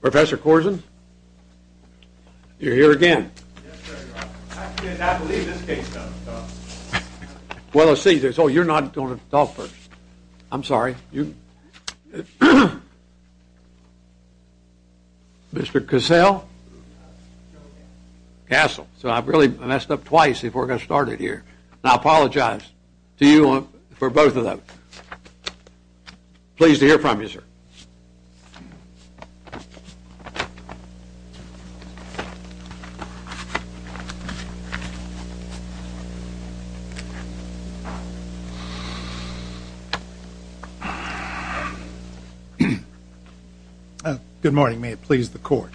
Professor Corzine, you're here again. Yes, sir. I believe this case doesn't talk. Well, let's see. Oh, you're not going to talk first. I'm sorry. Mr. Cassell? Castle. So I've really messed up twice before I got started here. And I apologize to you for both of them. Pleased to hear from you, sir. Good morning. May it please the court.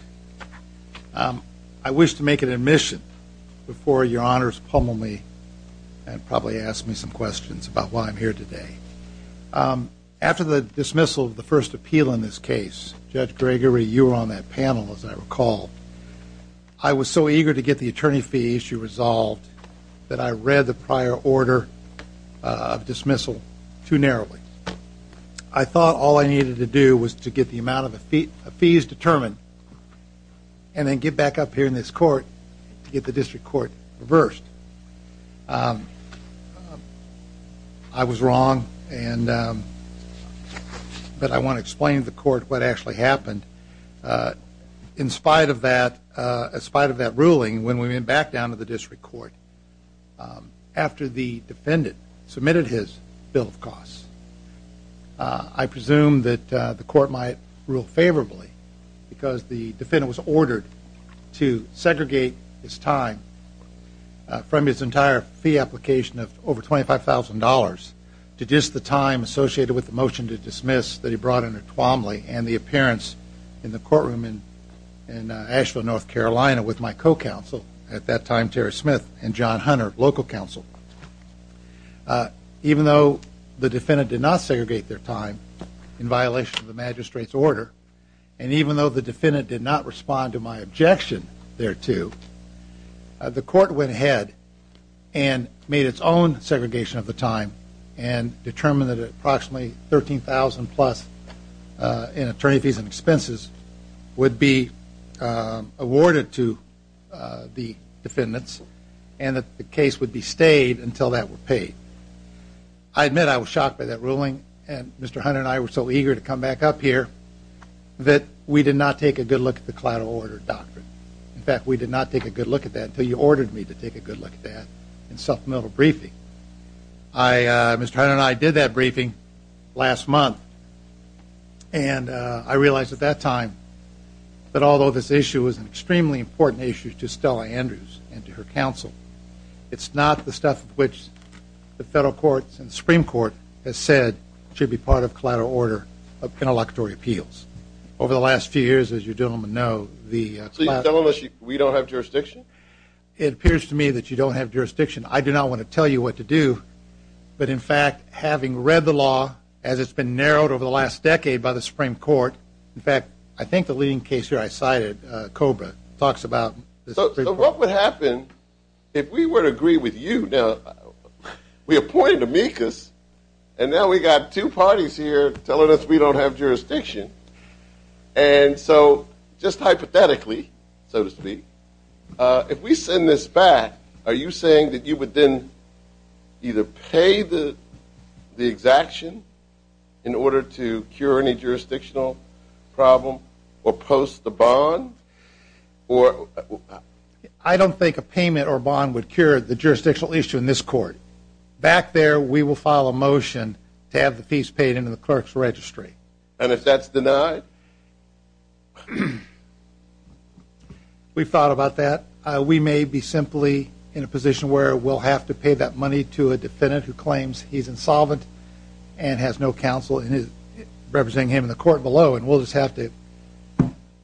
I wish to make an admission before your honors pummel me and probably ask me some questions about why I'm here today. After the dismissal of the first appeal in this case, Judge Gregory, you were on that panel, as I recall. I was so eager to get the attorney fee issue resolved that I read the prior order of dismissal too narrowly. I thought all I needed to do was to get the amount of fees determined and then get back up here in this court to get the district court reversed. I was wrong, but I want to explain to the court what actually happened. In spite of that ruling, when we went back down to the district court, after the defendant submitted his bill of costs, I presumed that the court might rule favorably because the defendant was ordered to segregate his time from his entire fee application of over $25,000 to just the time associated with the motion to dismiss that he brought under Twombly and the appearance in the courtroom in Asheville, North Carolina with my co-counsel, at that time Terry Smith and John Hunter, local counsel. Even though the defendant did not segregate their time in violation of the magistrate's order, and even though the defendant did not respond to my objection thereto, the court went ahead and made its own segregation of the time and determined that approximately $13,000 plus in attorney fees and expenses would be awarded to the defendants and that the case would be stayed until that were paid. I admit I was shocked by that ruling, and Mr. Hunter and I were so eager to come back up here that we did not take a good look at the collateral order doctrine. In fact, we did not take a good look at that until you ordered me to take a good look at that in supplemental briefing. Mr. Hunter and I did that briefing last month, and I realized at that time that although this issue is an extremely important issue to Stella Andrews and to her counsel, it's not the stuff of which the federal courts and the Supreme Court has said should be part of collateral order of interlocutory appeals. Over the last few years, as you gentlemen know, the – So you're telling us we don't have jurisdiction? It appears to me that you don't have jurisdiction. I do not want to tell you what to do, but in fact, having read the law as it's been narrowed over the last decade by the Supreme Court – in fact, I think the leading case here I cited, COBRA, talks about – So what would happen if we were to agree with you that we appointed amicus, and now we've got two parties here telling us we don't have jurisdiction? And so just hypothetically, so to speak, if we send this back, are you saying that you would then either pay the exaction in order to cure any jurisdictional problem or post the bond or – I don't think a payment or bond would cure the jurisdictional issue in this court. Back there, we will file a motion to have the fees paid into the clerk's registry. And if that's denied? We've thought about that. We may be simply in a position where we'll have to pay that money to a defendant who claims he's insolvent and has no counsel representing him in the court below, and we'll just have to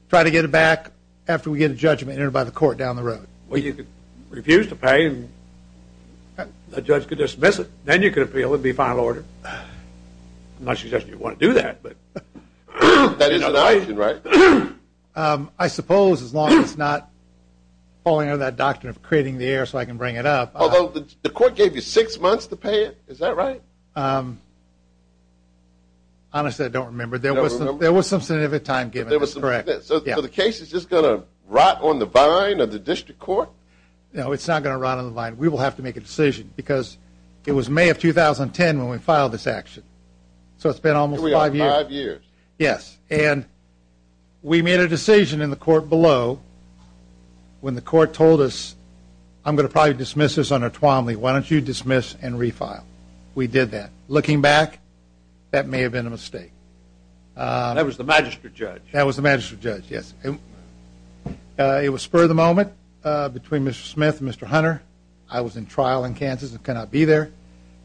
try to get it back after we get a judgment entered by the court down the road. Well, you could refuse to pay, and the judge could dismiss it. Then you could appeal the final order. I'm not suggesting you'd want to do that. That is an option, right? I suppose as long as it's not falling under that doctrine of creating the air so I can bring it up. Although the court gave you six months to pay it. Is that right? Honestly, I don't remember. There was some significant time given. So the case is just going to rot on the vine of the district court? No, it's not going to rot on the vine. We will have to make a decision because it was May of 2010 when we filed this action. So it's been almost five years. Yes, and we made a decision in the court below when the court told us, I'm going to probably dismiss this under Twomley. Why don't you dismiss and refile? We did that. Looking back, that may have been a mistake. That was the magistrate judge. That was the magistrate judge, yes. It was spur of the moment between Mr. Smith and Mr. Hunter. I was in trial in Kansas and could not be there.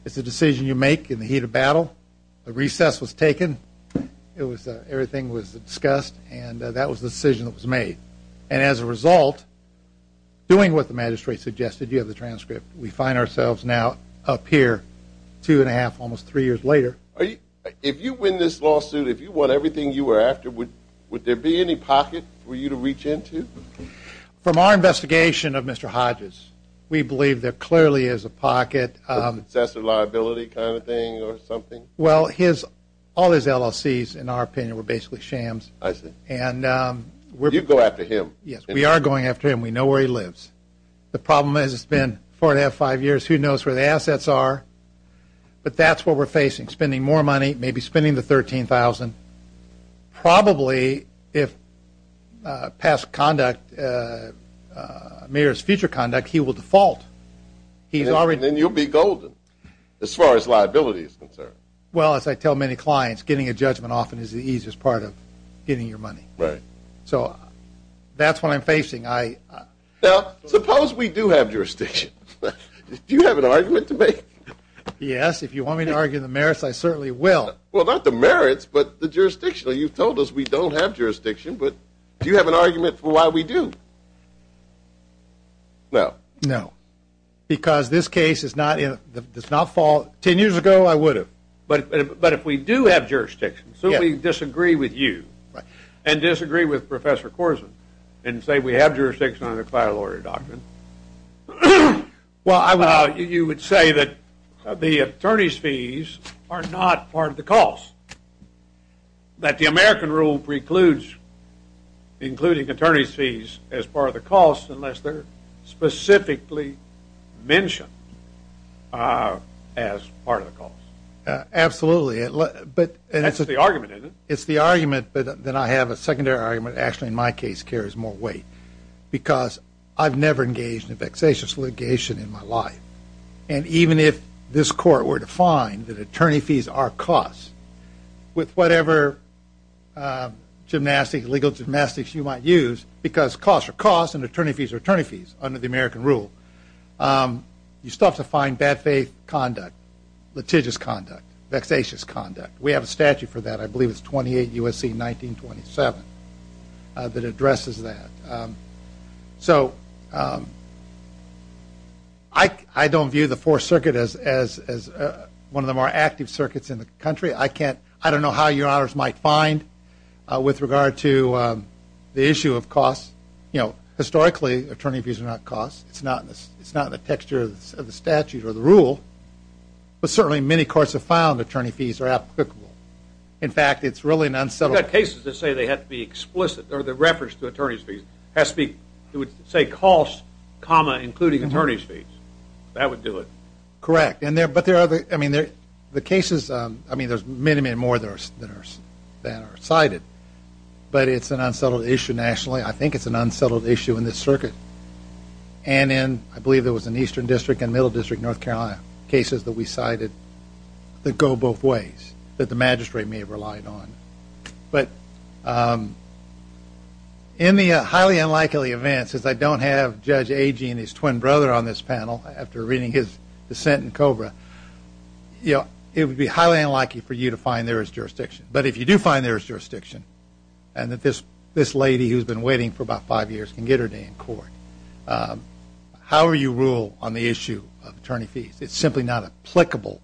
It's a decision you make in the heat of battle. A recess was taken. Everything was discussed, and that was the decision that was made. And as a result, doing what the magistrate suggested, you have the transcript. We find ourselves now up here two and a half, almost three years later. If you win this lawsuit, if you won everything you were after, would there be any pocket for you to reach into? From our investigation of Mr. Hodges, we believe there clearly is a pocket. Possessor liability kind of thing or something? Well, all his LLCs, in our opinion, were basically shams. I see. You'd go after him. Yes, we are going after him. We know where he lives. The problem is it's been four and a half, five years. Who knows where the assets are? But that's what we're facing, spending more money, maybe spending the $13,000. Probably if past conduct mirrors future conduct, he will default. Then you'll be golden as far as liability is concerned. Well, as I tell many clients, getting a judgment often is the easiest part of getting your money. So that's what I'm facing. Now, suppose we do have jurisdiction. Do you have an argument to make? Yes. If you want me to argue the merits, I certainly will. Well, not the merits, but the jurisdiction. You've told us we don't have jurisdiction, but do you have an argument for why we do? No. No. Because this case does not fall. Ten years ago, I would have. But if we do have jurisdiction, so we disagree with you and disagree with Professor Korsen and say we have jurisdiction under the client lawyer doctrine, you would say that the attorney's fees are not part of the cost, that the American rule precludes including attorney's fees as part of the cost unless they're specifically mentioned as part of the cost. Absolutely. That's the argument, isn't it? It's the argument, but then I have a secondary argument. Actually, in my case, it carries more weight because I've never engaged in a vexatious litigation in my life. And even if this court were to find that attorney fees are costs with whatever gymnastics, legal gymnastics you might use, because costs are costs and attorney fees are attorney fees under the American rule, you still have to find bad faith conduct, litigious conduct, vexatious conduct. We have a statute for that. I believe it's 28 U.S.C. 1927 that addresses that. So I don't view the Fourth Circuit as one of the more active circuits in the country. I don't know how your honors might find with regard to the issue of costs. Historically, attorney fees are not costs. It's not in the texture of the statute or the rule. But certainly many courts have found attorney fees are applicable. In fact, it's really an unsettled issue. You've got cases that say they have to be explicit or they're referenced to attorney fees. It would say costs, including attorney fees. That would do it. Correct. But the cases, I mean, there's many, many more that are cited, but it's an unsettled issue nationally. I think it's an unsettled issue in this circuit and in I believe there was an eastern district and middle district North Carolina cases that we cited that go both ways that the magistrate may have relied on. But in the highly unlikely events, since I don't have Judge Agee and his twin brother on this panel after reading his dissent in Cobra, it would be highly unlikely for you to find there is jurisdiction. But if you do find there is jurisdiction and that this lady who's been waiting for about five years can get her day in court, how will you rule on the issue of attorney fees? It's simply not applicable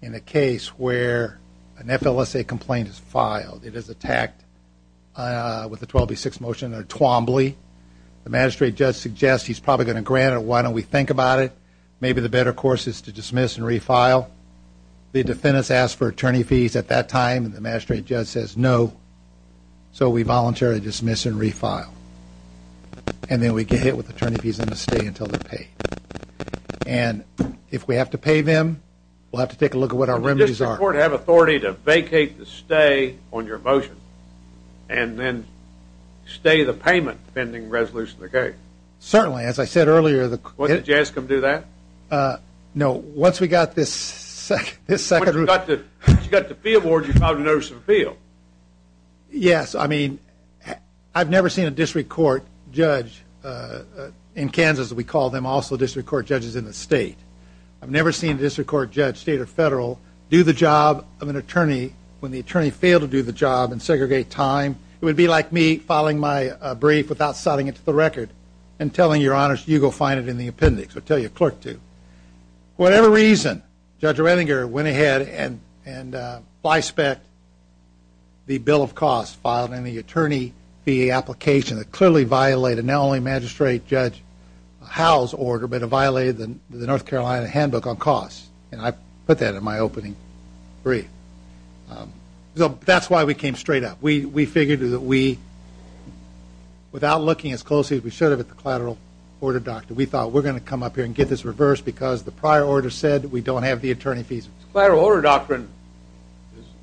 in a case where an FLSA complaint is filed. It is attacked with a 12B6 motion or a Twombly. The magistrate judge suggests he's probably going to grant it. Why don't we think about it? Maybe the better course is to dismiss and refile. The defendants ask for attorney fees at that time. The magistrate judge says no. So we voluntarily dismiss and refile. And then we get hit with attorney fees and stay until they're paid. And if we have to pay them, we'll have to take a look at what our remedies are. Does the court have authority to vacate the stay on your motion and then stay the payment pending resolution of the case? Certainly. As I said earlier. What, did you ask them to do that? No. Once we got this second rule. Once you got the field board, you filed a notice of appeal. Yes. I mean, I've never seen a district court judge in Kansas, we call them also district court judges in the state. I've never seen a district court judge, state or federal, do the job of an attorney when the attorney failed to do the job and segregate time. It would be like me filing my brief without citing it to the record and telling your honors you go find it in the appendix or tell your clerk to. For whatever reason, Judge Oettinger went ahead and by spec the bill of costs filed in the attorney fee application that clearly violated not only Magistrate Judge Howell's order, but it violated the North Carolina handbook on costs. And I put that in my opening brief. That's why we came straight up. We figured that we, without looking as closely as we should have at the collateral order doctor, we thought we're going to come up here and get this reversed because the prior order said we don't have the attorney fees. Collateral order doctrine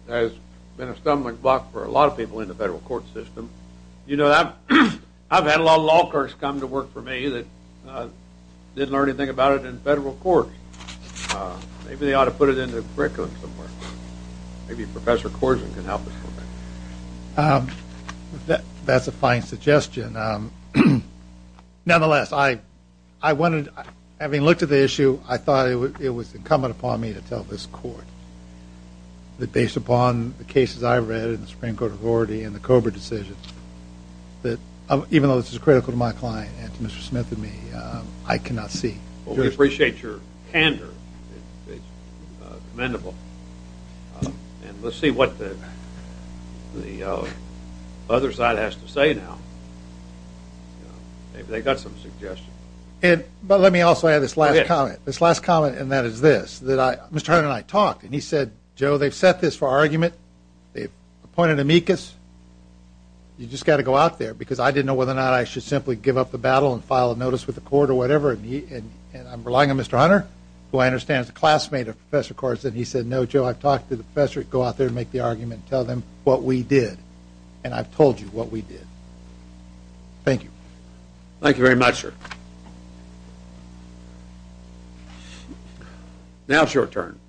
has been a stumbling block for a lot of people in the federal court system. You know, I've had a lot of law clerks come to work for me that didn't learn anything about it in federal court. Maybe they ought to put it in the curriculum somewhere. Maybe Professor Korzen can help us with that. That's a fine suggestion. Nonetheless, I wanted, having looked at the issue, I thought it was incumbent upon me to tell this court that based upon the cases I read in the Supreme Court Authority and the Cobra decision, that even though this is critical to my client and to Mr. Smith and me, I cannot see. We appreciate your candor. It's commendable. And let's see what the other side has to say now. Maybe they've got some suggestions. But let me also add this last comment. This last comment, and that is this. Mr. Hunter and I talked, and he said, Joe, they've set this for argument. They've appointed amicus. You've just got to go out there because I didn't know whether or not I should simply give up the battle and file a notice with the court or whatever. And I'm relying on Mr. Hunter, who I understand is a classmate of Professor Korzen. He said, No, Joe, I've talked to the professor. Go out there and make the argument. Tell them what we did. And I've told you what we did. Thank you. Thank you very much, sir. Now it's your turn.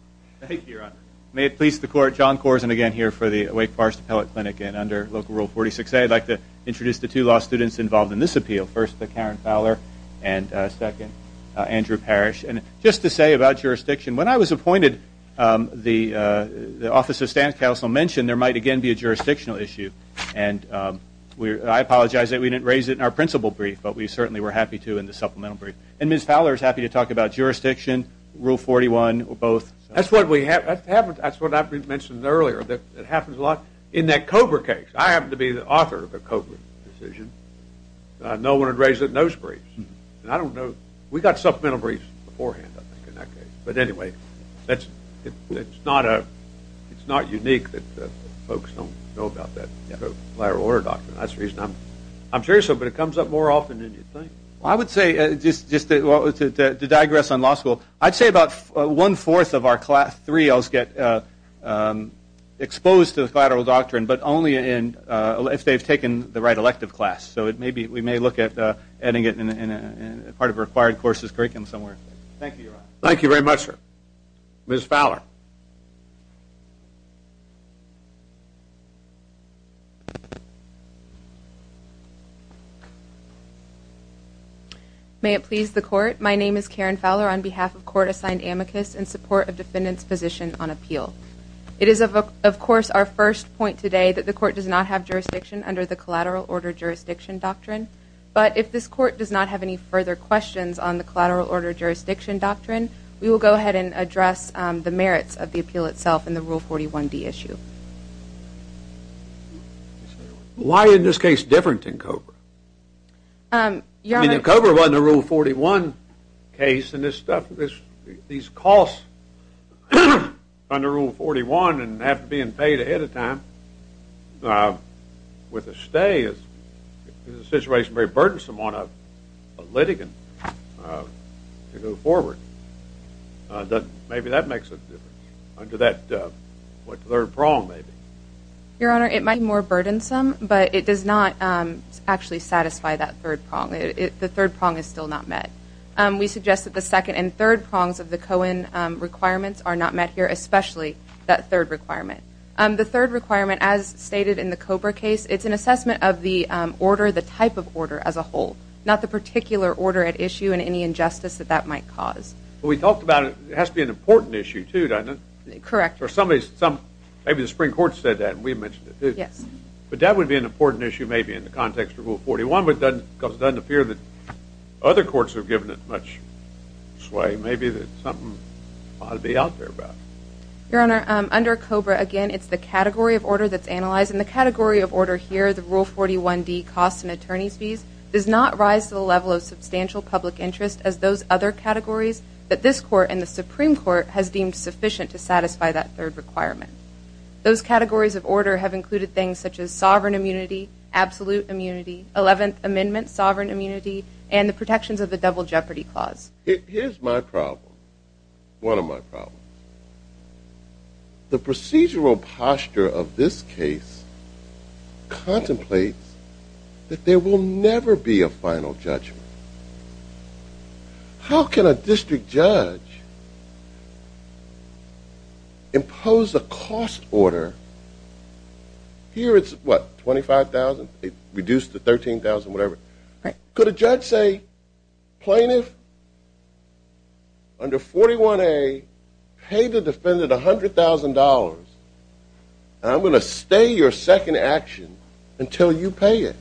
Thank you, Your Honor. May it please the Court, John Korzen again here for the Wake Forest Appellate Clinic. And under Local Rule 46A, I'd like to introduce the two law students involved in this appeal. First, the Karen Fowler, and second, Andrew Parrish. And just to say about jurisdiction, when I was appointed, the Office of Stance Counsel mentioned there might again be a jurisdictional issue. And I apologize that we didn't raise it in our principal brief, but we certainly were happy to in the supplemental brief. And Ms. Fowler is happy to talk about jurisdiction, Rule 41, both. That's what I mentioned earlier. It happens a lot. In that Cobra case, I happened to be the author of the Cobra decision. No one had raised it in those briefs. We got supplemental briefs beforehand, I think, in that case. But anyway, it's not unique that folks don't know about that collateral order doctrine. That's the reason I'm curious about it. But it comes up more often than you'd think. I would say, just to digress on law school, I'd say about one-fourth of our class 3-Ls get exposed to the collateral doctrine, but only if they've taken the right elective class. So we may look at adding it in part of required courses curriculum somewhere. Thank you, Your Honor. Thank you very much, sir. Ms. Fowler. May it please the Court, my name is Karen Fowler on behalf of Court-Assigned Amicus in support of defendant's position on appeal. It is, of course, our first point today that the Court does not have jurisdiction under the collateral order jurisdiction doctrine. But if this Court does not have any further questions on the collateral order jurisdiction doctrine, we will go ahead and address the merits of the appeal itself in the Rule 41D issue. Why in this case different than COBR? I mean, COBR wasn't a Rule 41 case, these costs under Rule 41 and have to be paid ahead of time with a stay is a situation very burdensome on a litigant to go forward. Maybe that makes a difference under that third prong, maybe. Your Honor, it might be more burdensome, but it does not actually satisfy that third prong. The third prong is still not met. We suggest that the second and third prongs of the Cohen requirements are not met here, especially that third requirement. The third requirement, as stated in the COBR case, it's an assessment of the order, the type of order as a whole, not the particular order at issue and any injustice that that might cause. Well, we talked about it. It has to be an important issue, too, doesn't it? Correct. Or maybe the Supreme Court said that and we mentioned it, too. Yes. But that would be an important issue maybe in the context of Rule 41 because it doesn't appear that other courts have given it much sway. Maybe there's something ought to be out there about it. Your Honor, under COBR, again, it's the category of order that's analyzed, and the category of order here, the Rule 41d, costs and attorneys' fees, does not rise to the level of substantial public interest as those other categories that this Court and the Supreme Court has deemed sufficient to satisfy that third requirement. Those categories of order have included things such as sovereign immunity, absolute immunity, Eleventh Amendment sovereign immunity, and the protections of the Double Jeopardy Clause. Here's my problem, one of my problems. The procedural posture of this case contemplates that there will never be a final judgment. How can a district judge impose a cost order? Here it's, what, $25,000? It's reduced to $13,000, whatever. Right. Could a judge say, Plaintiff, under 41a, pay the defendant $100,000, and I'm going to stay your second action until you pay it?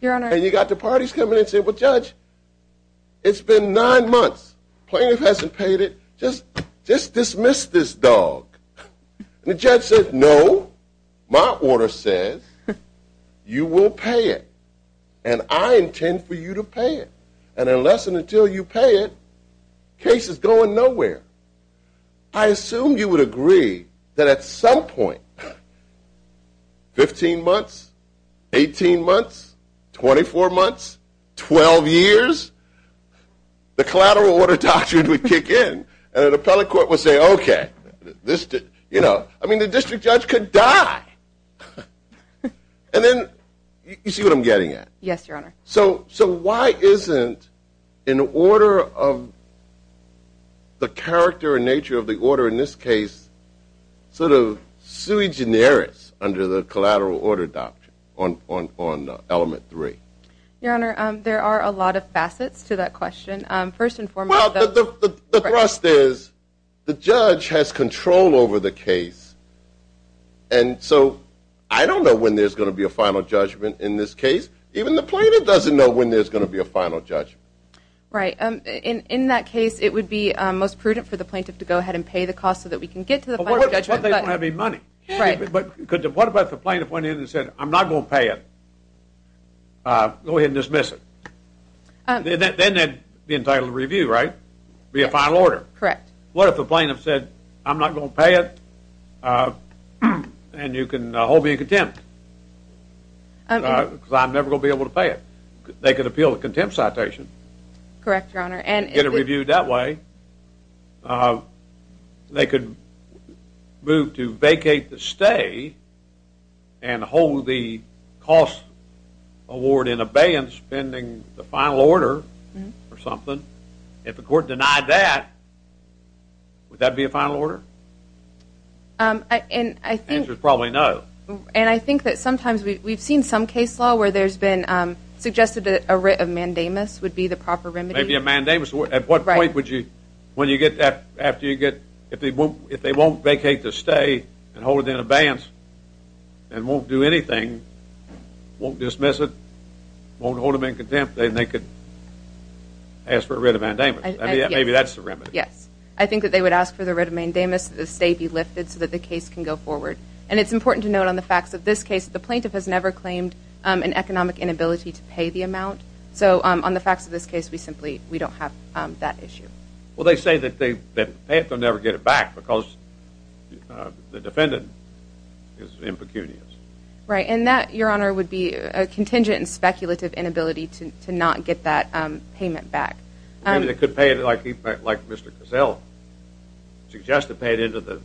Your Honor. And you've got the parties coming in and saying, Well, Judge, it's been nine months. Plaintiff hasn't paid it. Just dismiss this dog. And the judge says, No. My order says you will pay it, and I intend for you to pay it. And unless and until you pay it, the case is going nowhere. I assume you would agree that at some point, 15 months, 18 months, 24 months, 12 years, the collateral order doctrine would kick in, and an appellate court would say, Okay. I mean, the district judge could die. And then, you see what I'm getting at? Yes, Your Honor. So why isn't an order of the character and nature of the order in this case sort of sui generis under the collateral order doctrine on element three? Your Honor, there are a lot of facets to that question. First and foremost, the thrust is the judge has control over the case, and so I don't know when there's going to be a final judgment in this case. Even the plaintiff doesn't know when there's going to be a final judgment. Right. In that case, it would be most prudent for the plaintiff to go ahead and pay the cost so that we can get to the final judgment. But what if they don't have any money? Right. But what if the plaintiff went in and said, I'm not going to pay it? Go ahead and dismiss it. Then that would be entitled to review, right? Be a final order. Correct. What if the plaintiff said, I'm not going to pay it, and you can hold me in contempt? Because I'm never going to be able to pay it. They could appeal the contempt citation. Correct, Your Honor. Get it reviewed that way. They could move to vacate the stay and hold the cost award in abeyance, pending the final order or something. If the court denied that, would that be a final order? The answer is probably no. And I think that sometimes we've seen some case law where there's been suggested that a writ of mandamus would be the proper remedy. Maybe a mandamus. At what point would you, when you get that, after you get, if they won't vacate the stay and hold it in abeyance and won't do anything, won't dismiss it, won't hold them in contempt, then they could ask for a writ of mandamus. Maybe that's the remedy. Yes. I think that they would ask for the writ of mandamus, that the stay be lifted so that the case can go forward. And it's important to note on the facts of this case that the plaintiff has never claimed an economic inability to pay the amount. So on the facts of this case, we simply don't have that issue. Well, they say that if they pay it, they'll never get it back because the defendant is impecunious. Right, and that, Your Honor, would be a contingent and speculative inability to not get that payment back. Maybe they could pay it like Mr. Cassell suggested, pay it into the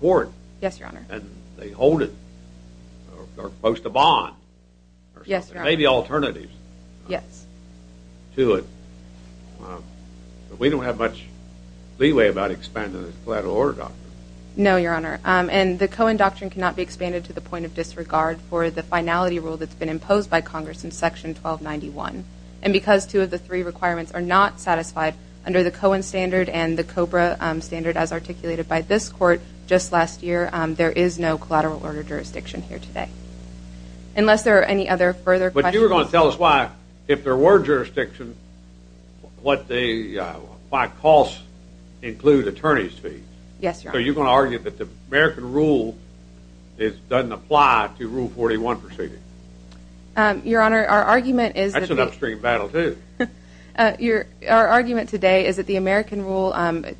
court. Yes, Your Honor. And they hold it or post a bond or something. Yes, Your Honor. Maybe alternatives to it. But we don't have much leeway about expanding the collateral order doctrine. No, Your Honor, and the Cohen doctrine cannot be expanded to the point of disregard for the finality rule that's been imposed by Congress in Section 1291. And because two of the three requirements are not satisfied under the Cohen standard and the Cobra standard as articulated by this court just last year, there is no collateral order jurisdiction here today. Unless there are any other further questions. But you were going to tell us why, if there were jurisdiction, why costs include attorney's fees. Yes, Your Honor. So you're going to argue that the American rule doesn't apply to Rule 41 proceeding? Your Honor, our argument is that the— That's an upstream battle, too. Our argument today is that the American rule,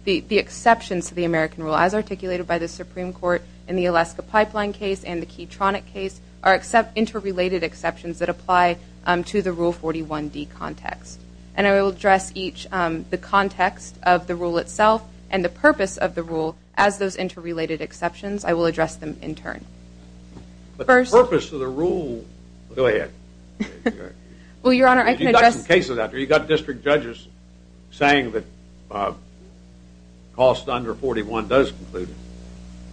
the exceptions to the American rule as articulated by the Supreme Court in the Alaska Pipeline case and the Keytronic case are interrelated exceptions that apply to the Rule 41D context. And I will address each, the context of the rule itself and the purpose of the rule as those interrelated exceptions. I will address them in turn. But the purpose of the rule— Go ahead. Well, Your Honor, I can address— You've got some cases out there. You've got district judges saying that costs under 41 does include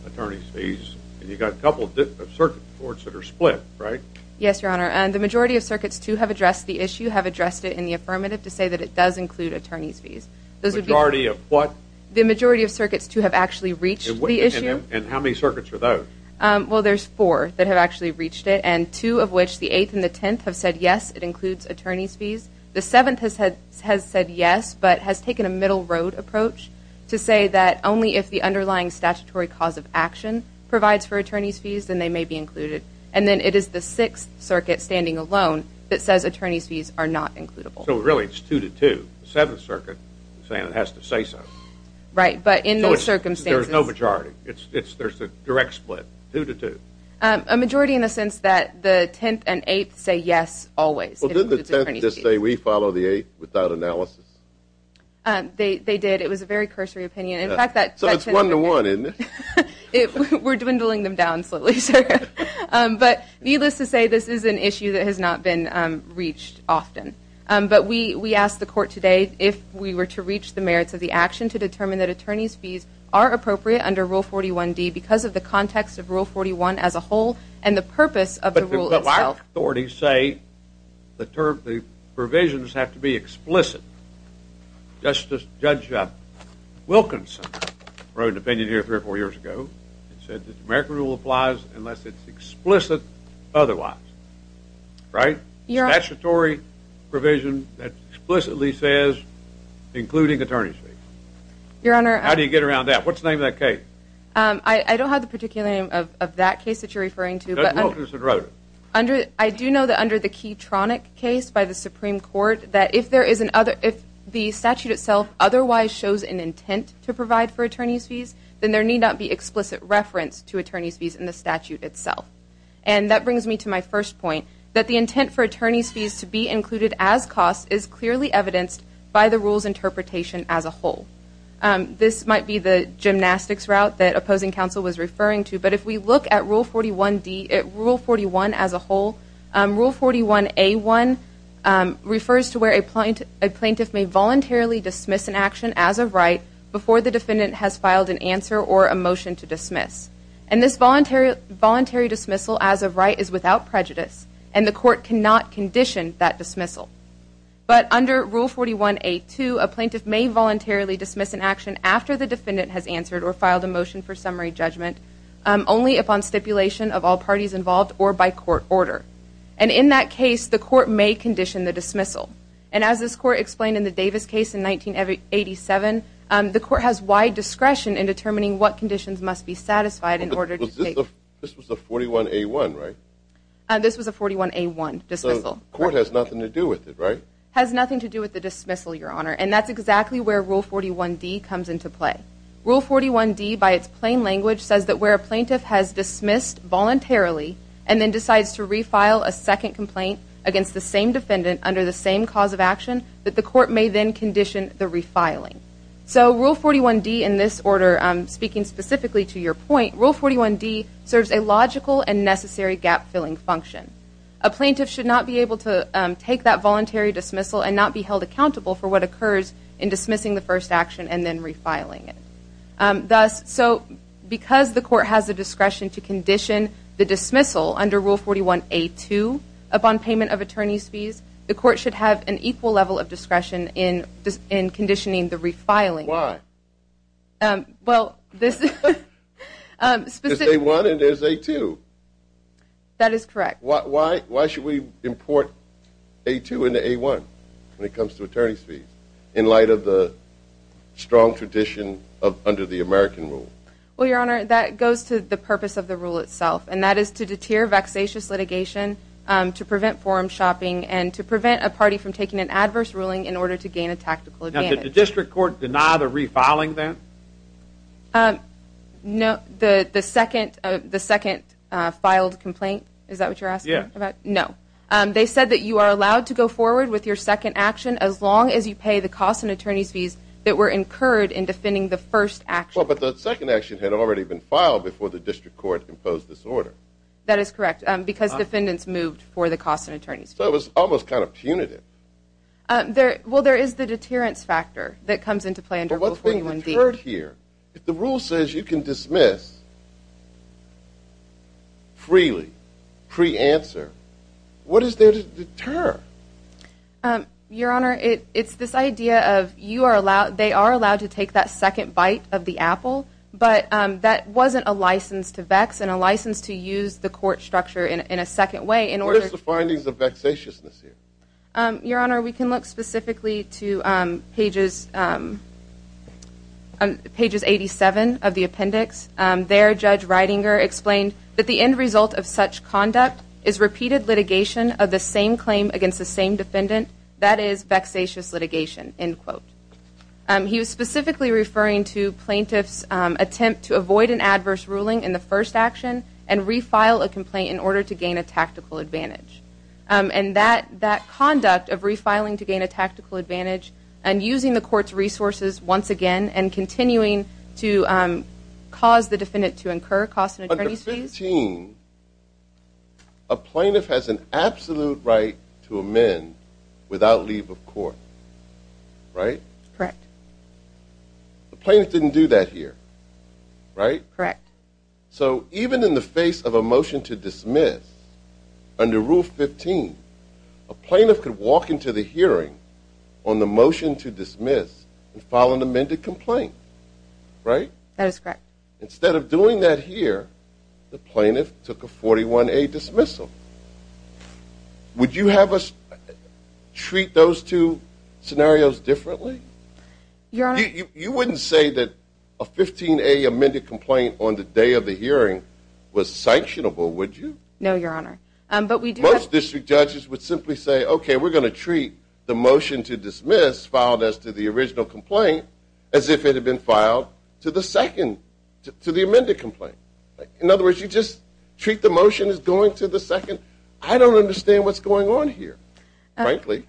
attorney's fees. And you've got a couple of circuit courts that are split, right? Yes, Your Honor. And the majority of circuits, too, have addressed the issue, have addressed it in the affirmative to say that it does include attorney's fees. The majority of what? The majority of circuits, too, have actually reached the issue. And how many circuits are those? Well, there's four that have actually reached it and two of which, the 8th and the 10th, have said, yes, it includes attorney's fees. The 7th has said yes but has taken a middle road approach to say that only if the underlying statutory cause of action provides for attorney's fees then they may be included. And then it is the 6th Circuit standing alone that says attorney's fees are not includable. So, really, it's two to two. The 7th Circuit is saying it has to say so. Right, but in those circumstances— There's no majority. There's a direct split, two to two. A majority in the sense that the 10th and 8th say yes always. Well, didn't the 10th just say we follow the 8th without analysis? They did. It was a very cursory opinion. So it's one to one, isn't it? We're dwindling them down slightly, sir. But needless to say, this is an issue that has not been reached often. But we asked the court today if we were to reach the merits of the action to determine that attorney's fees are appropriate under Rule 41D because of the context of Rule 41 as a whole and the purpose of the rule itself. But our authorities say the provisions have to be explicit. Justice Judge Wilkinson wrote an opinion here three or four years ago and said that the American rule applies unless it's explicit otherwise. Right? Statutory provision that explicitly says including attorney's fees. Your Honor— How do you get around that? What's the name of that case? I don't have the particular name of that case that you're referring to. Judge Wilkinson wrote it. I do know that under the Keytronic case by the Supreme Court, that if the statute itself otherwise shows an intent to provide for attorney's fees, then there need not be explicit reference to attorney's fees in the statute itself. And that brings me to my first point, that the intent for attorney's fees to be included as costs is clearly evidenced by the rule's interpretation as a whole. This might be the gymnastics route that opposing counsel was referring to, but if we look at Rule 41 as a whole, Rule 41A1 refers to where a plaintiff may voluntarily dismiss an action as of right before the defendant has filed an answer or a motion to dismiss. And this voluntary dismissal as of right is without prejudice, and the court cannot condition that dismissal. But under Rule 41A2, a plaintiff may voluntarily dismiss an action after the defendant has answered or filed a motion for summary judgment, only upon stipulation of all parties involved or by court order. And in that case, the court may condition the dismissal. And as this court explained in the Davis case in 1987, the court has wide discretion in determining what conditions must be satisfied in order to take… This was a 41A1, right? This was a 41A1 dismissal. So the court has nothing to do with it, right? Has nothing to do with the dismissal, Your Honor, and that's exactly where Rule 41D comes into play. Rule 41D, by its plain language, says that where a plaintiff has dismissed voluntarily and then decides to refile a second complaint against the same defendant under the same cause of action, that the court may then condition the refiling. So Rule 41D, in this order, speaking specifically to your point, Rule 41D serves a logical and necessary gap-filling function. A plaintiff should not be able to take that voluntary dismissal and not be held accountable for what occurs in dismissing the first action and then refiling it. Thus, so because the court has the discretion to condition the dismissal under Rule 41A2 upon payment of attorney's fees, the court should have an equal level of discretion in conditioning the refiling. Why? Well, this is… It's A1 and there's A2. That is correct. Why should we import A2 into A1 when it comes to attorney's fees in light of the strong tradition under the American Rule? Well, Your Honor, that goes to the purpose of the rule itself, and that is to deter vexatious litigation, to prevent forum shopping, and to prevent a party from taking an adverse ruling in order to gain a tactical advantage. Did the district court deny the refiling then? No. The second filed complaint, is that what you're asking about? Yes. No. They said that you are allowed to go forward with your second action as long as you pay the cost and attorney's fees that were incurred in defending the first action. Well, but the second action had already been filed before the district court imposed this order. That is correct, because defendants moved for the cost and attorney's fees. So it was almost kind of punitive. Well, there is the deterrence factor that comes into play under Rule 41B. What is deterred here? If the rule says you can dismiss freely, pre-answer, what is there to deter? Your Honor, it's this idea of they are allowed to take that second bite of the apple, but that wasn't a license to vex and a license to use the court structure in a second way in order to Where is the findings of vexatiousness here? Your Honor, we can look specifically to pages 87 of the appendix. There, Judge Reidinger explained that the end result of such conduct is repeated litigation of the same claim against the same defendant. That is vexatious litigation, end quote. He was specifically referring to plaintiffs' attempt to avoid an adverse ruling in the first action and refile a complaint in order to gain a tactical advantage. And that conduct of refiling to gain a tactical advantage and using the court's resources once again and continuing to cause the defendant to incur costs and attorney's fees Under 15, a plaintiff has an absolute right to amend without leave of court, right? Correct. The plaintiff didn't do that here, right? Correct. So even in the face of a motion to dismiss, under Rule 15, a plaintiff could walk into the hearing on the motion to dismiss and file an amended complaint, right? That is correct. Instead of doing that here, the plaintiff took a 41A dismissal. Would you have us treat those two scenarios differently? You wouldn't say that a 15A amended complaint on the day of the hearing was sanctionable, would you? No, Your Honor. Most district judges would simply say, okay, we're going to treat the motion to dismiss filed as to the original complaint as if it had been filed to the second, to the amended complaint. In other words, you just treat the motion as going to the second? I don't understand what's going on here, frankly.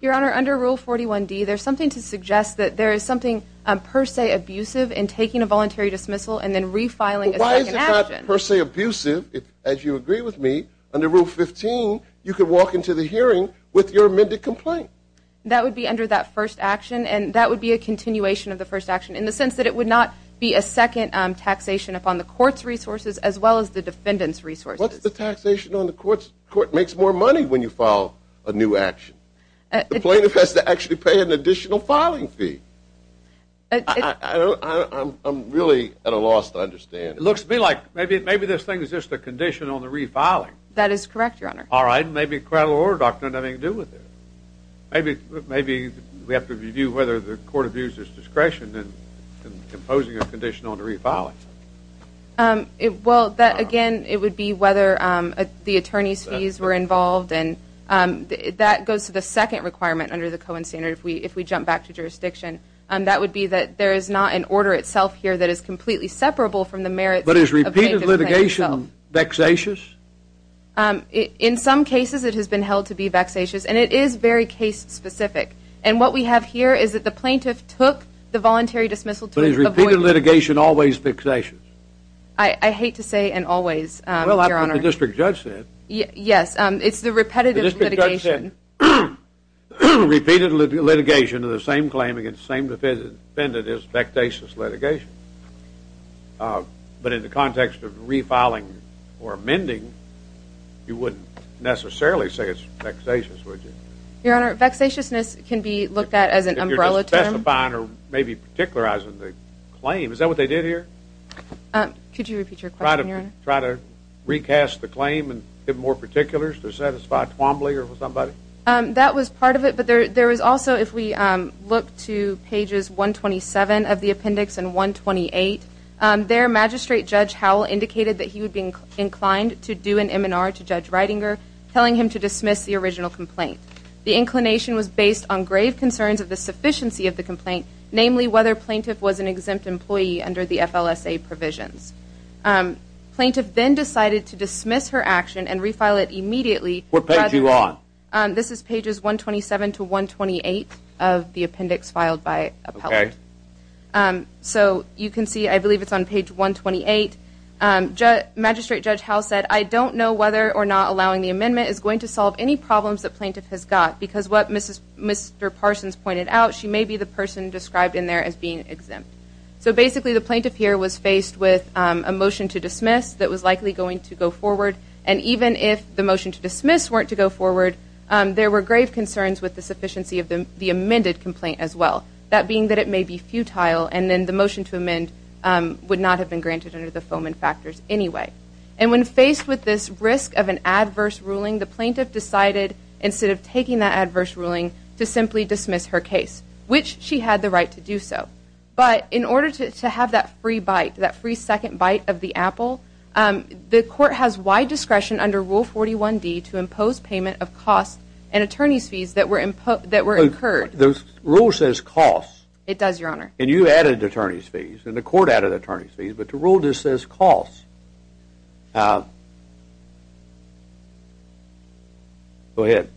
Your Honor, under Rule 41D, there's something to suggest that there is something per se abusive in taking a voluntary dismissal and then refiling a second action. Well, why is it not per se abusive? As you agree with me, under Rule 15, you could walk into the hearing with your amended complaint. That would be under that first action, and that would be a continuation of the first action in the sense that it would not be a second taxation upon the court's resources as well as the defendant's resources. What's the taxation on the court? The court makes more money when you file a new action. The plaintiff has to actually pay an additional filing fee. I'm really at a loss to understand. It looks to me like maybe this thing is just a condition on the refiling. That is correct, Your Honor. All right, maybe credit order doctrine has nothing to do with it. Maybe we have to review whether the court abuses discretion in imposing a condition on the refiling. Well, again, it would be whether the attorney's fees were involved, and that goes to the second requirement under the Cohen standard if we jump back to jurisdiction. That would be that there is not an order itself here that is completely separable from the merits of the plaintiff. But is repeated litigation vexatious? In some cases, it has been held to be vexatious, and it is very case-specific. And what we have here is that the plaintiff took the voluntary dismissal to avoid it. Is litigation always vexatious? I hate to say and always, Your Honor. Well, that's what the district judge said. Yes, it's the repetitive litigation. Repeated litigation of the same claim against the same defendant is vexatious litigation. But in the context of refiling or amending, you wouldn't necessarily say it's vexatious, would you? Your Honor, vexatiousness can be looked at as an umbrella term. Or testifying or maybe particularizing the claim. Is that what they did here? Could you repeat your question, Your Honor? Try to recast the claim and give more particulars to satisfy Twombly or somebody? That was part of it, but there was also, if we look to pages 127 of the appendix and 128, there Magistrate Judge Howell indicated that he would be inclined to do an M&R to Judge Reitinger, telling him to dismiss the original complaint. The inclination was based on grave concerns of the sufficiency of the complaint, namely whether Plaintiff was an exempt employee under the FLSA provisions. Plaintiff then decided to dismiss her action and refile it immediately. What page are you on? This is pages 127 to 128 of the appendix filed by Appellate. So you can see, I believe it's on page 128. Magistrate Judge Howell said, I don't know whether or not allowing the amendment is going to solve any problems that Plaintiff has got, because what Mr. Parsons pointed out, she may be the person described in there as being exempt. So basically the Plaintiff here was faced with a motion to dismiss that was likely going to go forward, and even if the motion to dismiss weren't to go forward, there were grave concerns with the sufficiency of the amended complaint as well. That being that it may be futile and then the motion to amend would not have been granted under the FOMIN factors anyway. And when faced with this risk of an adverse ruling, the Plaintiff decided, instead of taking that adverse ruling, to simply dismiss her case, which she had the right to do so. But in order to have that free bite, that free second bite of the apple, the Court has wide discretion under Rule 41D to impose payment of costs and attorney's fees that were incurred. The rule says costs. It does, Your Honor. And you added attorney's fees, and the Court added attorney's fees, but the rule just says costs. Go ahead.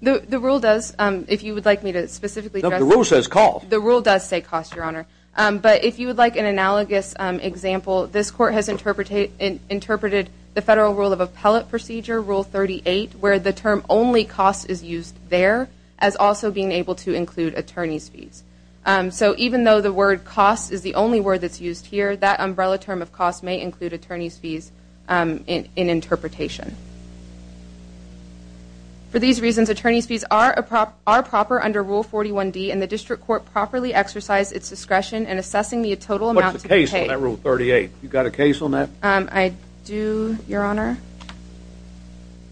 The rule does, if you would like me to specifically address that. The rule says costs. The rule does say costs, Your Honor. But if you would like an analogous example, this Court has interpreted the Federal Rule of Appellate Procedure, Rule 38, where the term only costs is used there as also being able to include attorney's fees. So even though the word costs is the only word that's used here, that umbrella term of costs may include attorney's fees in interpretation. For these reasons, attorney's fees are proper under Rule 41D, and the District Court properly exercised its discretion in assessing the total amount to be paid. What's the case on that Rule 38? You got a case on that? I do, Your Honor.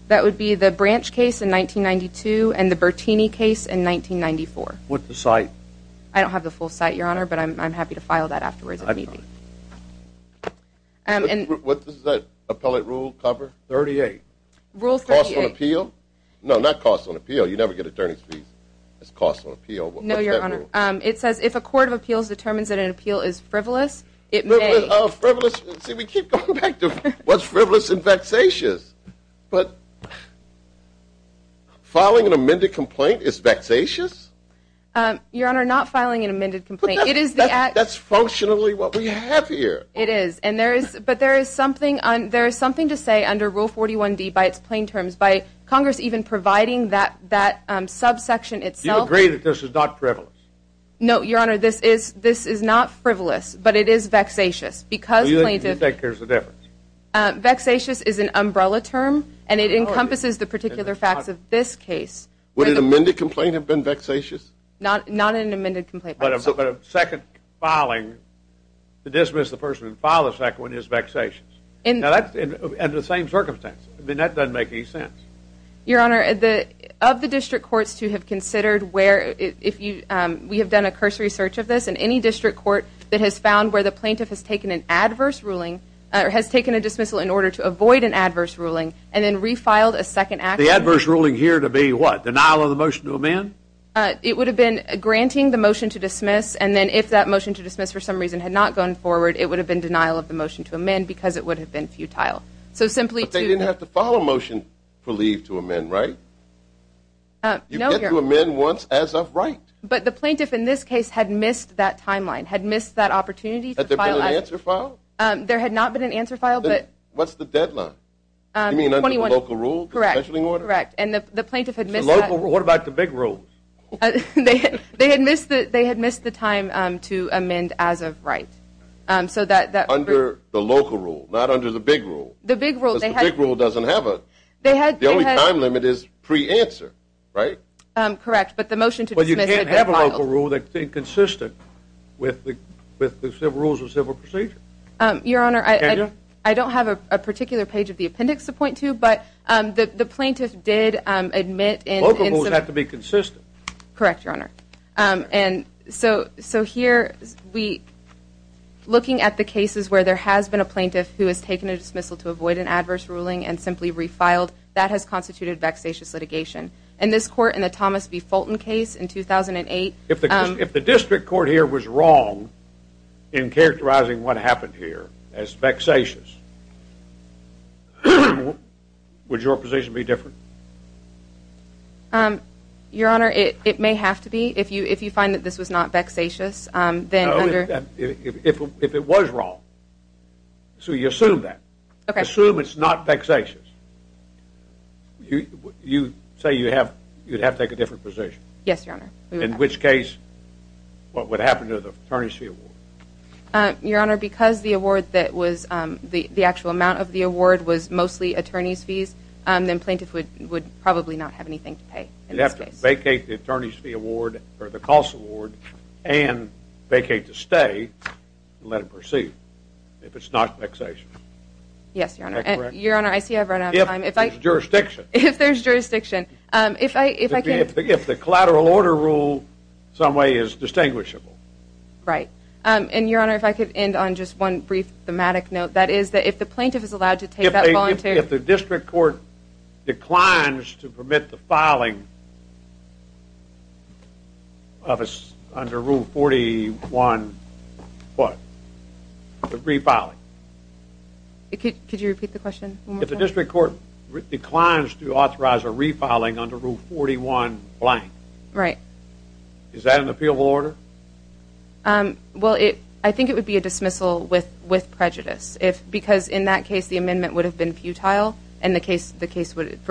That would be the Branch case in 1992 and the Bertini case in 1994. What's the site? I don't have the full site, Your Honor, but I'm happy to file that afterwards if need be. What does that appellate rule cover? Rules 38. Costs on appeal? No, not costs on appeal. You never get attorney's fees. It's costs on appeal. No, Your Honor. What's that rule? It says if a court of appeals determines that an appeal is frivolous, it may. Frivolous. See, we keep going back to what's frivolous and vexatious. But filing an amended complaint is vexatious? Your Honor, not filing an amended complaint. That's functionally what we have here. It is. But there is something to say under Rule 41D by its plain terms. By Congress even providing that subsection itself. Do you agree that this is not frivolous? No, Your Honor, this is not frivolous, but it is vexatious. Do you think there's a difference? Vexatious is an umbrella term, and it encompasses the particular facts of this case. Would an amended complaint have been vexatious? Not an amended complaint. But a second filing to dismiss the person and file a second one is vexatious. In the same circumstance. I mean, that doesn't make any sense. Your Honor, of the district courts to have considered where, we have done a cursory search of this, and any district court that has found where the plaintiff has taken an adverse ruling, or has taken a dismissal in order to avoid an adverse ruling, and then refiled a second action. The adverse ruling here to be what? Denial of the motion to amend? It would have been granting the motion to dismiss, and then if that motion to dismiss for some reason had not gone forward, it would have been denial of the motion to amend because it would have been futile. But they didn't have to file a motion for leave to amend, right? You get to amend once as of right. But the plaintiff in this case had missed that timeline, had missed that opportunity. Had there been an answer filed? There had not been an answer filed, but. What's the deadline? You mean under the local rule? Correct. And the plaintiff had missed that. What about the big rule? They had missed the time to amend as of right. So that. Under the local rule, not under the big rule. The big rule. The big rule doesn't have a. They had. The only time limit is pre-answer, right? Correct, but the motion to dismiss. They can't have a local rule that's inconsistent with the rules of civil procedure. Your Honor. Can you? I don't have a particular page of the appendix to point to, but the plaintiff did admit. Local rules have to be consistent. Correct, Your Honor. And so here, looking at the cases where there has been a plaintiff who has taken a dismissal to avoid an adverse ruling and simply refiled, that has constituted vexatious litigation. In this court, in the Thomas B. Fulton case in 2008. If the district court here was wrong in characterizing what happened here as vexatious, would your position be different? Your Honor, it may have to be. If you find that this was not vexatious, then under. No, if it was wrong. So you assume that. Okay. Assume it's not vexatious. You say you'd have to take a different position. Yes, Your Honor. In which case, what would happen to the attorney's fee award? Your Honor, because the actual amount of the award was mostly attorney's fees, then plaintiff would probably not have anything to pay in this case. You'd have to vacate the attorney's fee award or the cost award and vacate the stay and let it proceed if it's not vexatious. Yes, Your Honor. That correct? Your Honor, I see I've run out of time. If there's jurisdiction. If there's jurisdiction. If I can. If the collateral order rule in some way is distinguishable. Right. And, Your Honor, if I could end on just one brief thematic note. That is that if the plaintiff is allowed to take that voluntary. If the district court declines to permit the filing under Rule 41 what? The refiling. Could you repeat the question one more time? If the district court declines to authorize a refiling under Rule 41, blank. Right. Is that an appealable order? Well, I think it would be a dismissal with prejudice. Because in that case the amendment would have been futile. In which case it would be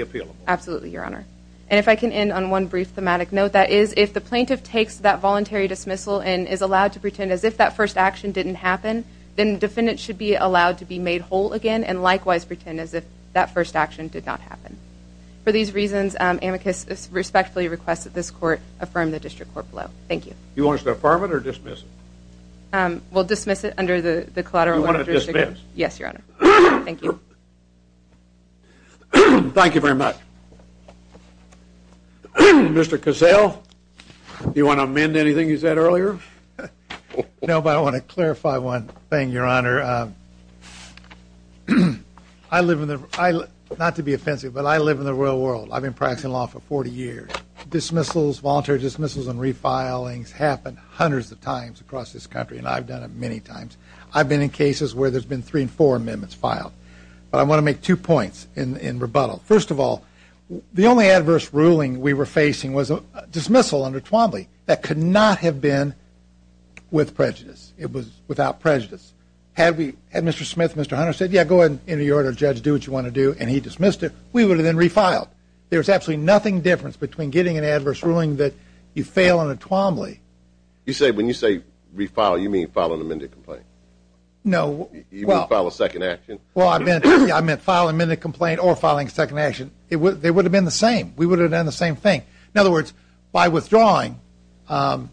appealable. Absolutely, Your Honor. And if I can end on one brief thematic note. That is if the plaintiff takes that voluntary dismissal. And is allowed to pretend as if that first action didn't happen. Then the defendant should be allowed to be made whole again. And likewise pretend as if that first action did not happen. For these reasons amicus respectfully requests that this court affirm the district court below. Thank you. Do you want us to affirm it or dismiss it? We'll dismiss it under the collateral order. Do you want to dismiss? Yes, Your Honor. Thank you. Thank you very much. Mr. Cassell, do you want to amend anything you said earlier? No, but I want to clarify one thing, Your Honor. I live in the, not to be offensive, but I live in the real world. I've been practicing law for 40 years. Dismissals, voluntary dismissals and refilings happen hundreds of times across this country. And I've done it many times. I've been in cases where there's been three and four amendments filed. But I want to make two points in rebuttal. First of all, the only adverse ruling we were facing was a dismissal under Twombly. That could not have been with prejudice. It was without prejudice. Had Mr. Smith, Mr. Hunter, said, yeah, go ahead, enter your order, judge, do what you want to do, and he dismissed it, we would have been refiled. There's absolutely nothing different between getting an adverse ruling that you fail on a Twombly. You say, when you say refile, you mean file an amended complaint? No. You mean file a second action? Well, I meant file an amended complaint or filing a second action. They would have been the same. We would have done the same thing. In other words, by withdrawing, as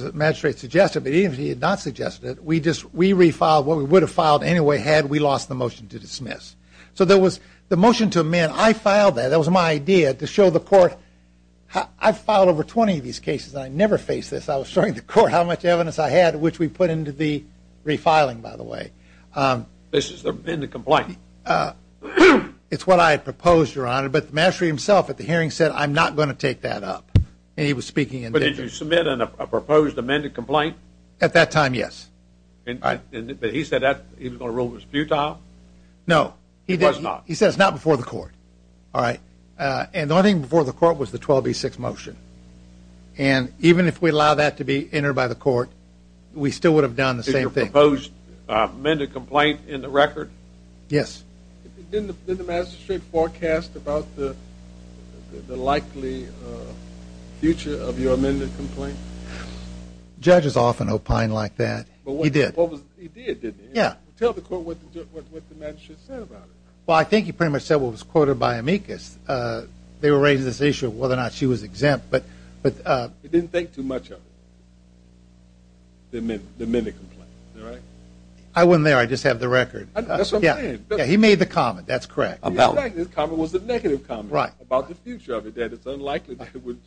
the magistrate suggested, but even if he had not suggested it, we refiled what we would have filed anyway had we lost the motion to dismiss. So there was the motion to amend. I filed that. That was my idea, to show the court. I've filed over 20 of these cases, and I never faced this. I was showing the court how much evidence I had, which we put into the refiling, by the way. This is the amended complaint. It's what I had proposed, Your Honor, but the magistrate himself at the hearing said, I'm not going to take that up, and he was speaking in digit. But did you submit a proposed amended complaint? At that time, yes. But he said that he was going to rule it futile? No. He did not. He said it's not before the court. All right. And the only thing before the court was the 12B6 motion. And even if we allow that to be entered by the court, we still would have done the same thing. Did you propose an amended complaint in the record? Yes. Did the magistrate forecast about the likely future of your amended complaint? Judges often opine like that. He did. He did, didn't he? Yeah. Tell the court what the magistrate said about it. Well, I think he pretty much said what was quoted by Amicus. They were raising this issue of whether or not she was exempt. He didn't think too much of it, the amended complaint. Is that right? I wasn't there. I just have the record. That's what I'm saying. Yeah, he made the comment. That's correct. Exactly. His comment was the negative comment about the future of it, that it's unlikely that it would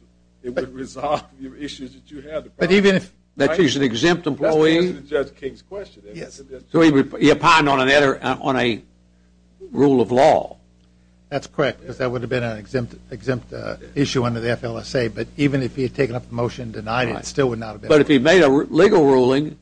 resolve the issues that you have. But even if that she's an exempt employee? That's the reason for Judge King's question. So he opined on a rule of law? That's correct, because that would have been an exempt issue under the FLSA. But even if he had taken up the motion and denied it, it still would not have been. But if he made a legal ruling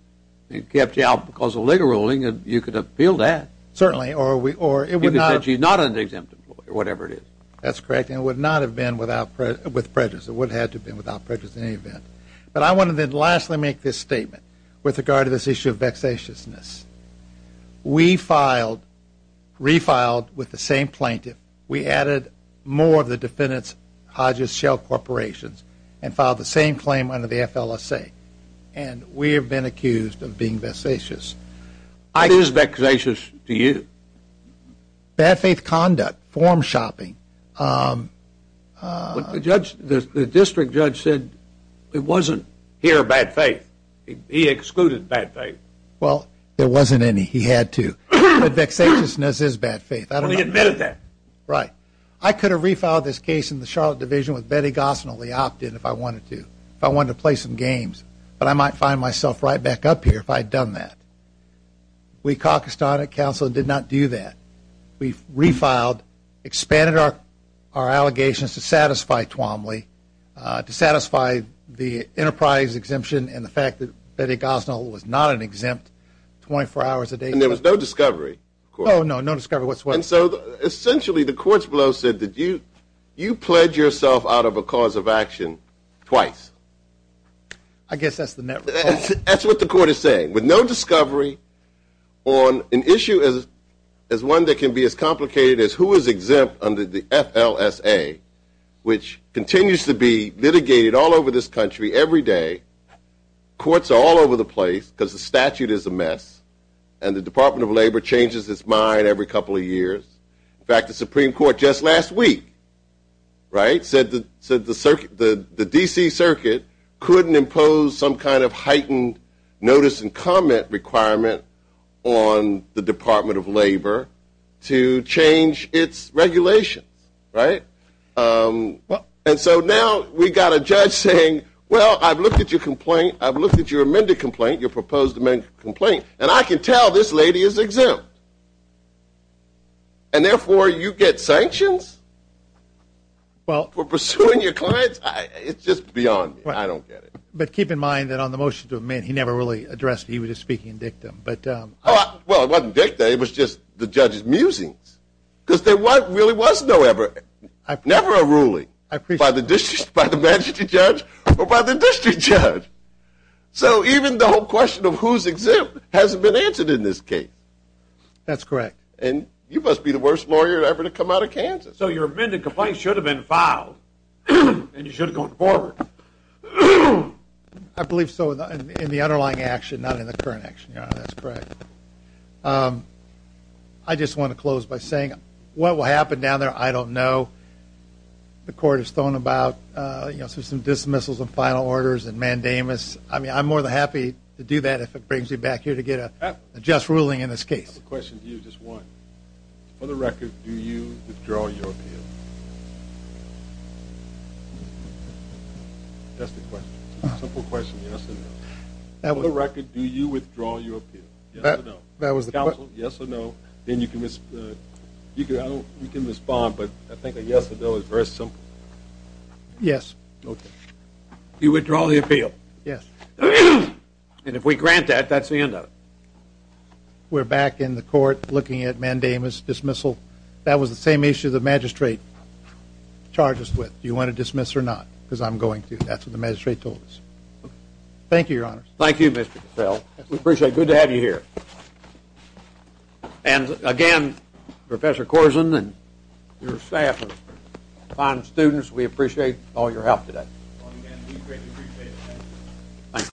and kept you out because of a legal ruling, you could have appealed that. Certainly, or it would not have. He said she's not an exempt employee, or whatever it is. That's correct, and it would not have been with prejudice. It would have had to have been without prejudice in any event. But I want to then lastly make this statement with regard to this issue of vexatiousness. We filed, refiled with the same plaintiff. We added more of the defendants, Hodges Shell Corporations, and filed the same claim under the FLSA. And we have been accused of being vexatious. What is vexatious to you? Bad faith conduct, form shopping. The district judge said it wasn't here bad faith. He excluded bad faith. Well, there wasn't any. He had to. But vexatiousness is bad faith. Well, he admitted that. Right. I could have refiled this case in the Charlotte Division with Betty Gosnell. We opted if I wanted to, if I wanted to play some games. But I might find myself right back up here if I had done that. We, Caucasian Council, did not do that. We refiled, expanded our allegations to satisfy Twombly, to satisfy the enterprise exemption and the fact that Betty Gosnell was not an exempt 24 hours a day. And there was no discovery. Oh, no, no discovery. What's what? And so, essentially, the courts below said that you pledged yourself out of a cause of action twice. I guess that's the network. That's what the court is saying. With no discovery on an issue as one that can be as complicated as who is exempt under the FLSA, which continues to be litigated all over this country every day, courts are all over the place because the statute is a mess and the Department of Labor changes its mind every couple of years. In fact, the Supreme Court just last week, right, said the D.C. Circuit couldn't impose some kind of heightened notice and comment requirement on the Department of Labor to change its regulations, right? And so now we've got a judge saying, well, I've looked at your complaint, I've looked at your amended complaint, your proposed amended complaint, and I can tell this lady is exempt. And therefore, you get sanctions for pursuing your clients? It's just beyond me. I don't get it. But keep in mind that on the motion to amend, he never really addressed it. He was just speaking in dictum. Well, it wasn't dictum. It was just the judge's musings because there really was never a ruling by the magistrate judge or by the district judge. So even the whole question of who's exempt hasn't been answered in this case. That's correct. And you must be the worst lawyer ever to come out of Kansas. So your amended complaint should have been filed and you should have gone forward. I believe so in the underlying action, not in the current action, Your Honor. That's correct. I just want to close by saying what will happen down there, I don't know. The court is throwing about some dismissals and final orders and mandamus. I mean, I'm more than happy to do that if it brings you back here to get a just ruling in this case. I have a question for you, just one. For the record, do you withdraw your appeal? That's the question. It's a simple question, yes or no. For the record, do you withdraw your appeal? Yes or no. That was the question. Counsel, yes or no. Then you can respond, but I think a yes or no is very simple. Yes. Okay. You withdraw the appeal. Yes. And if we grant that, that's the end of it. We're back in the court looking at mandamus, dismissal. That was the same issue the magistrate charged us with. Do you want to dismiss or not? Because I'm going to. That's what the magistrate told us. Thank you, Your Honor. Thank you, Mr. Cassell. We appreciate it. Good to have you here. And, again, Professor Corzine and your staff are fine students. We appreciate all your help today.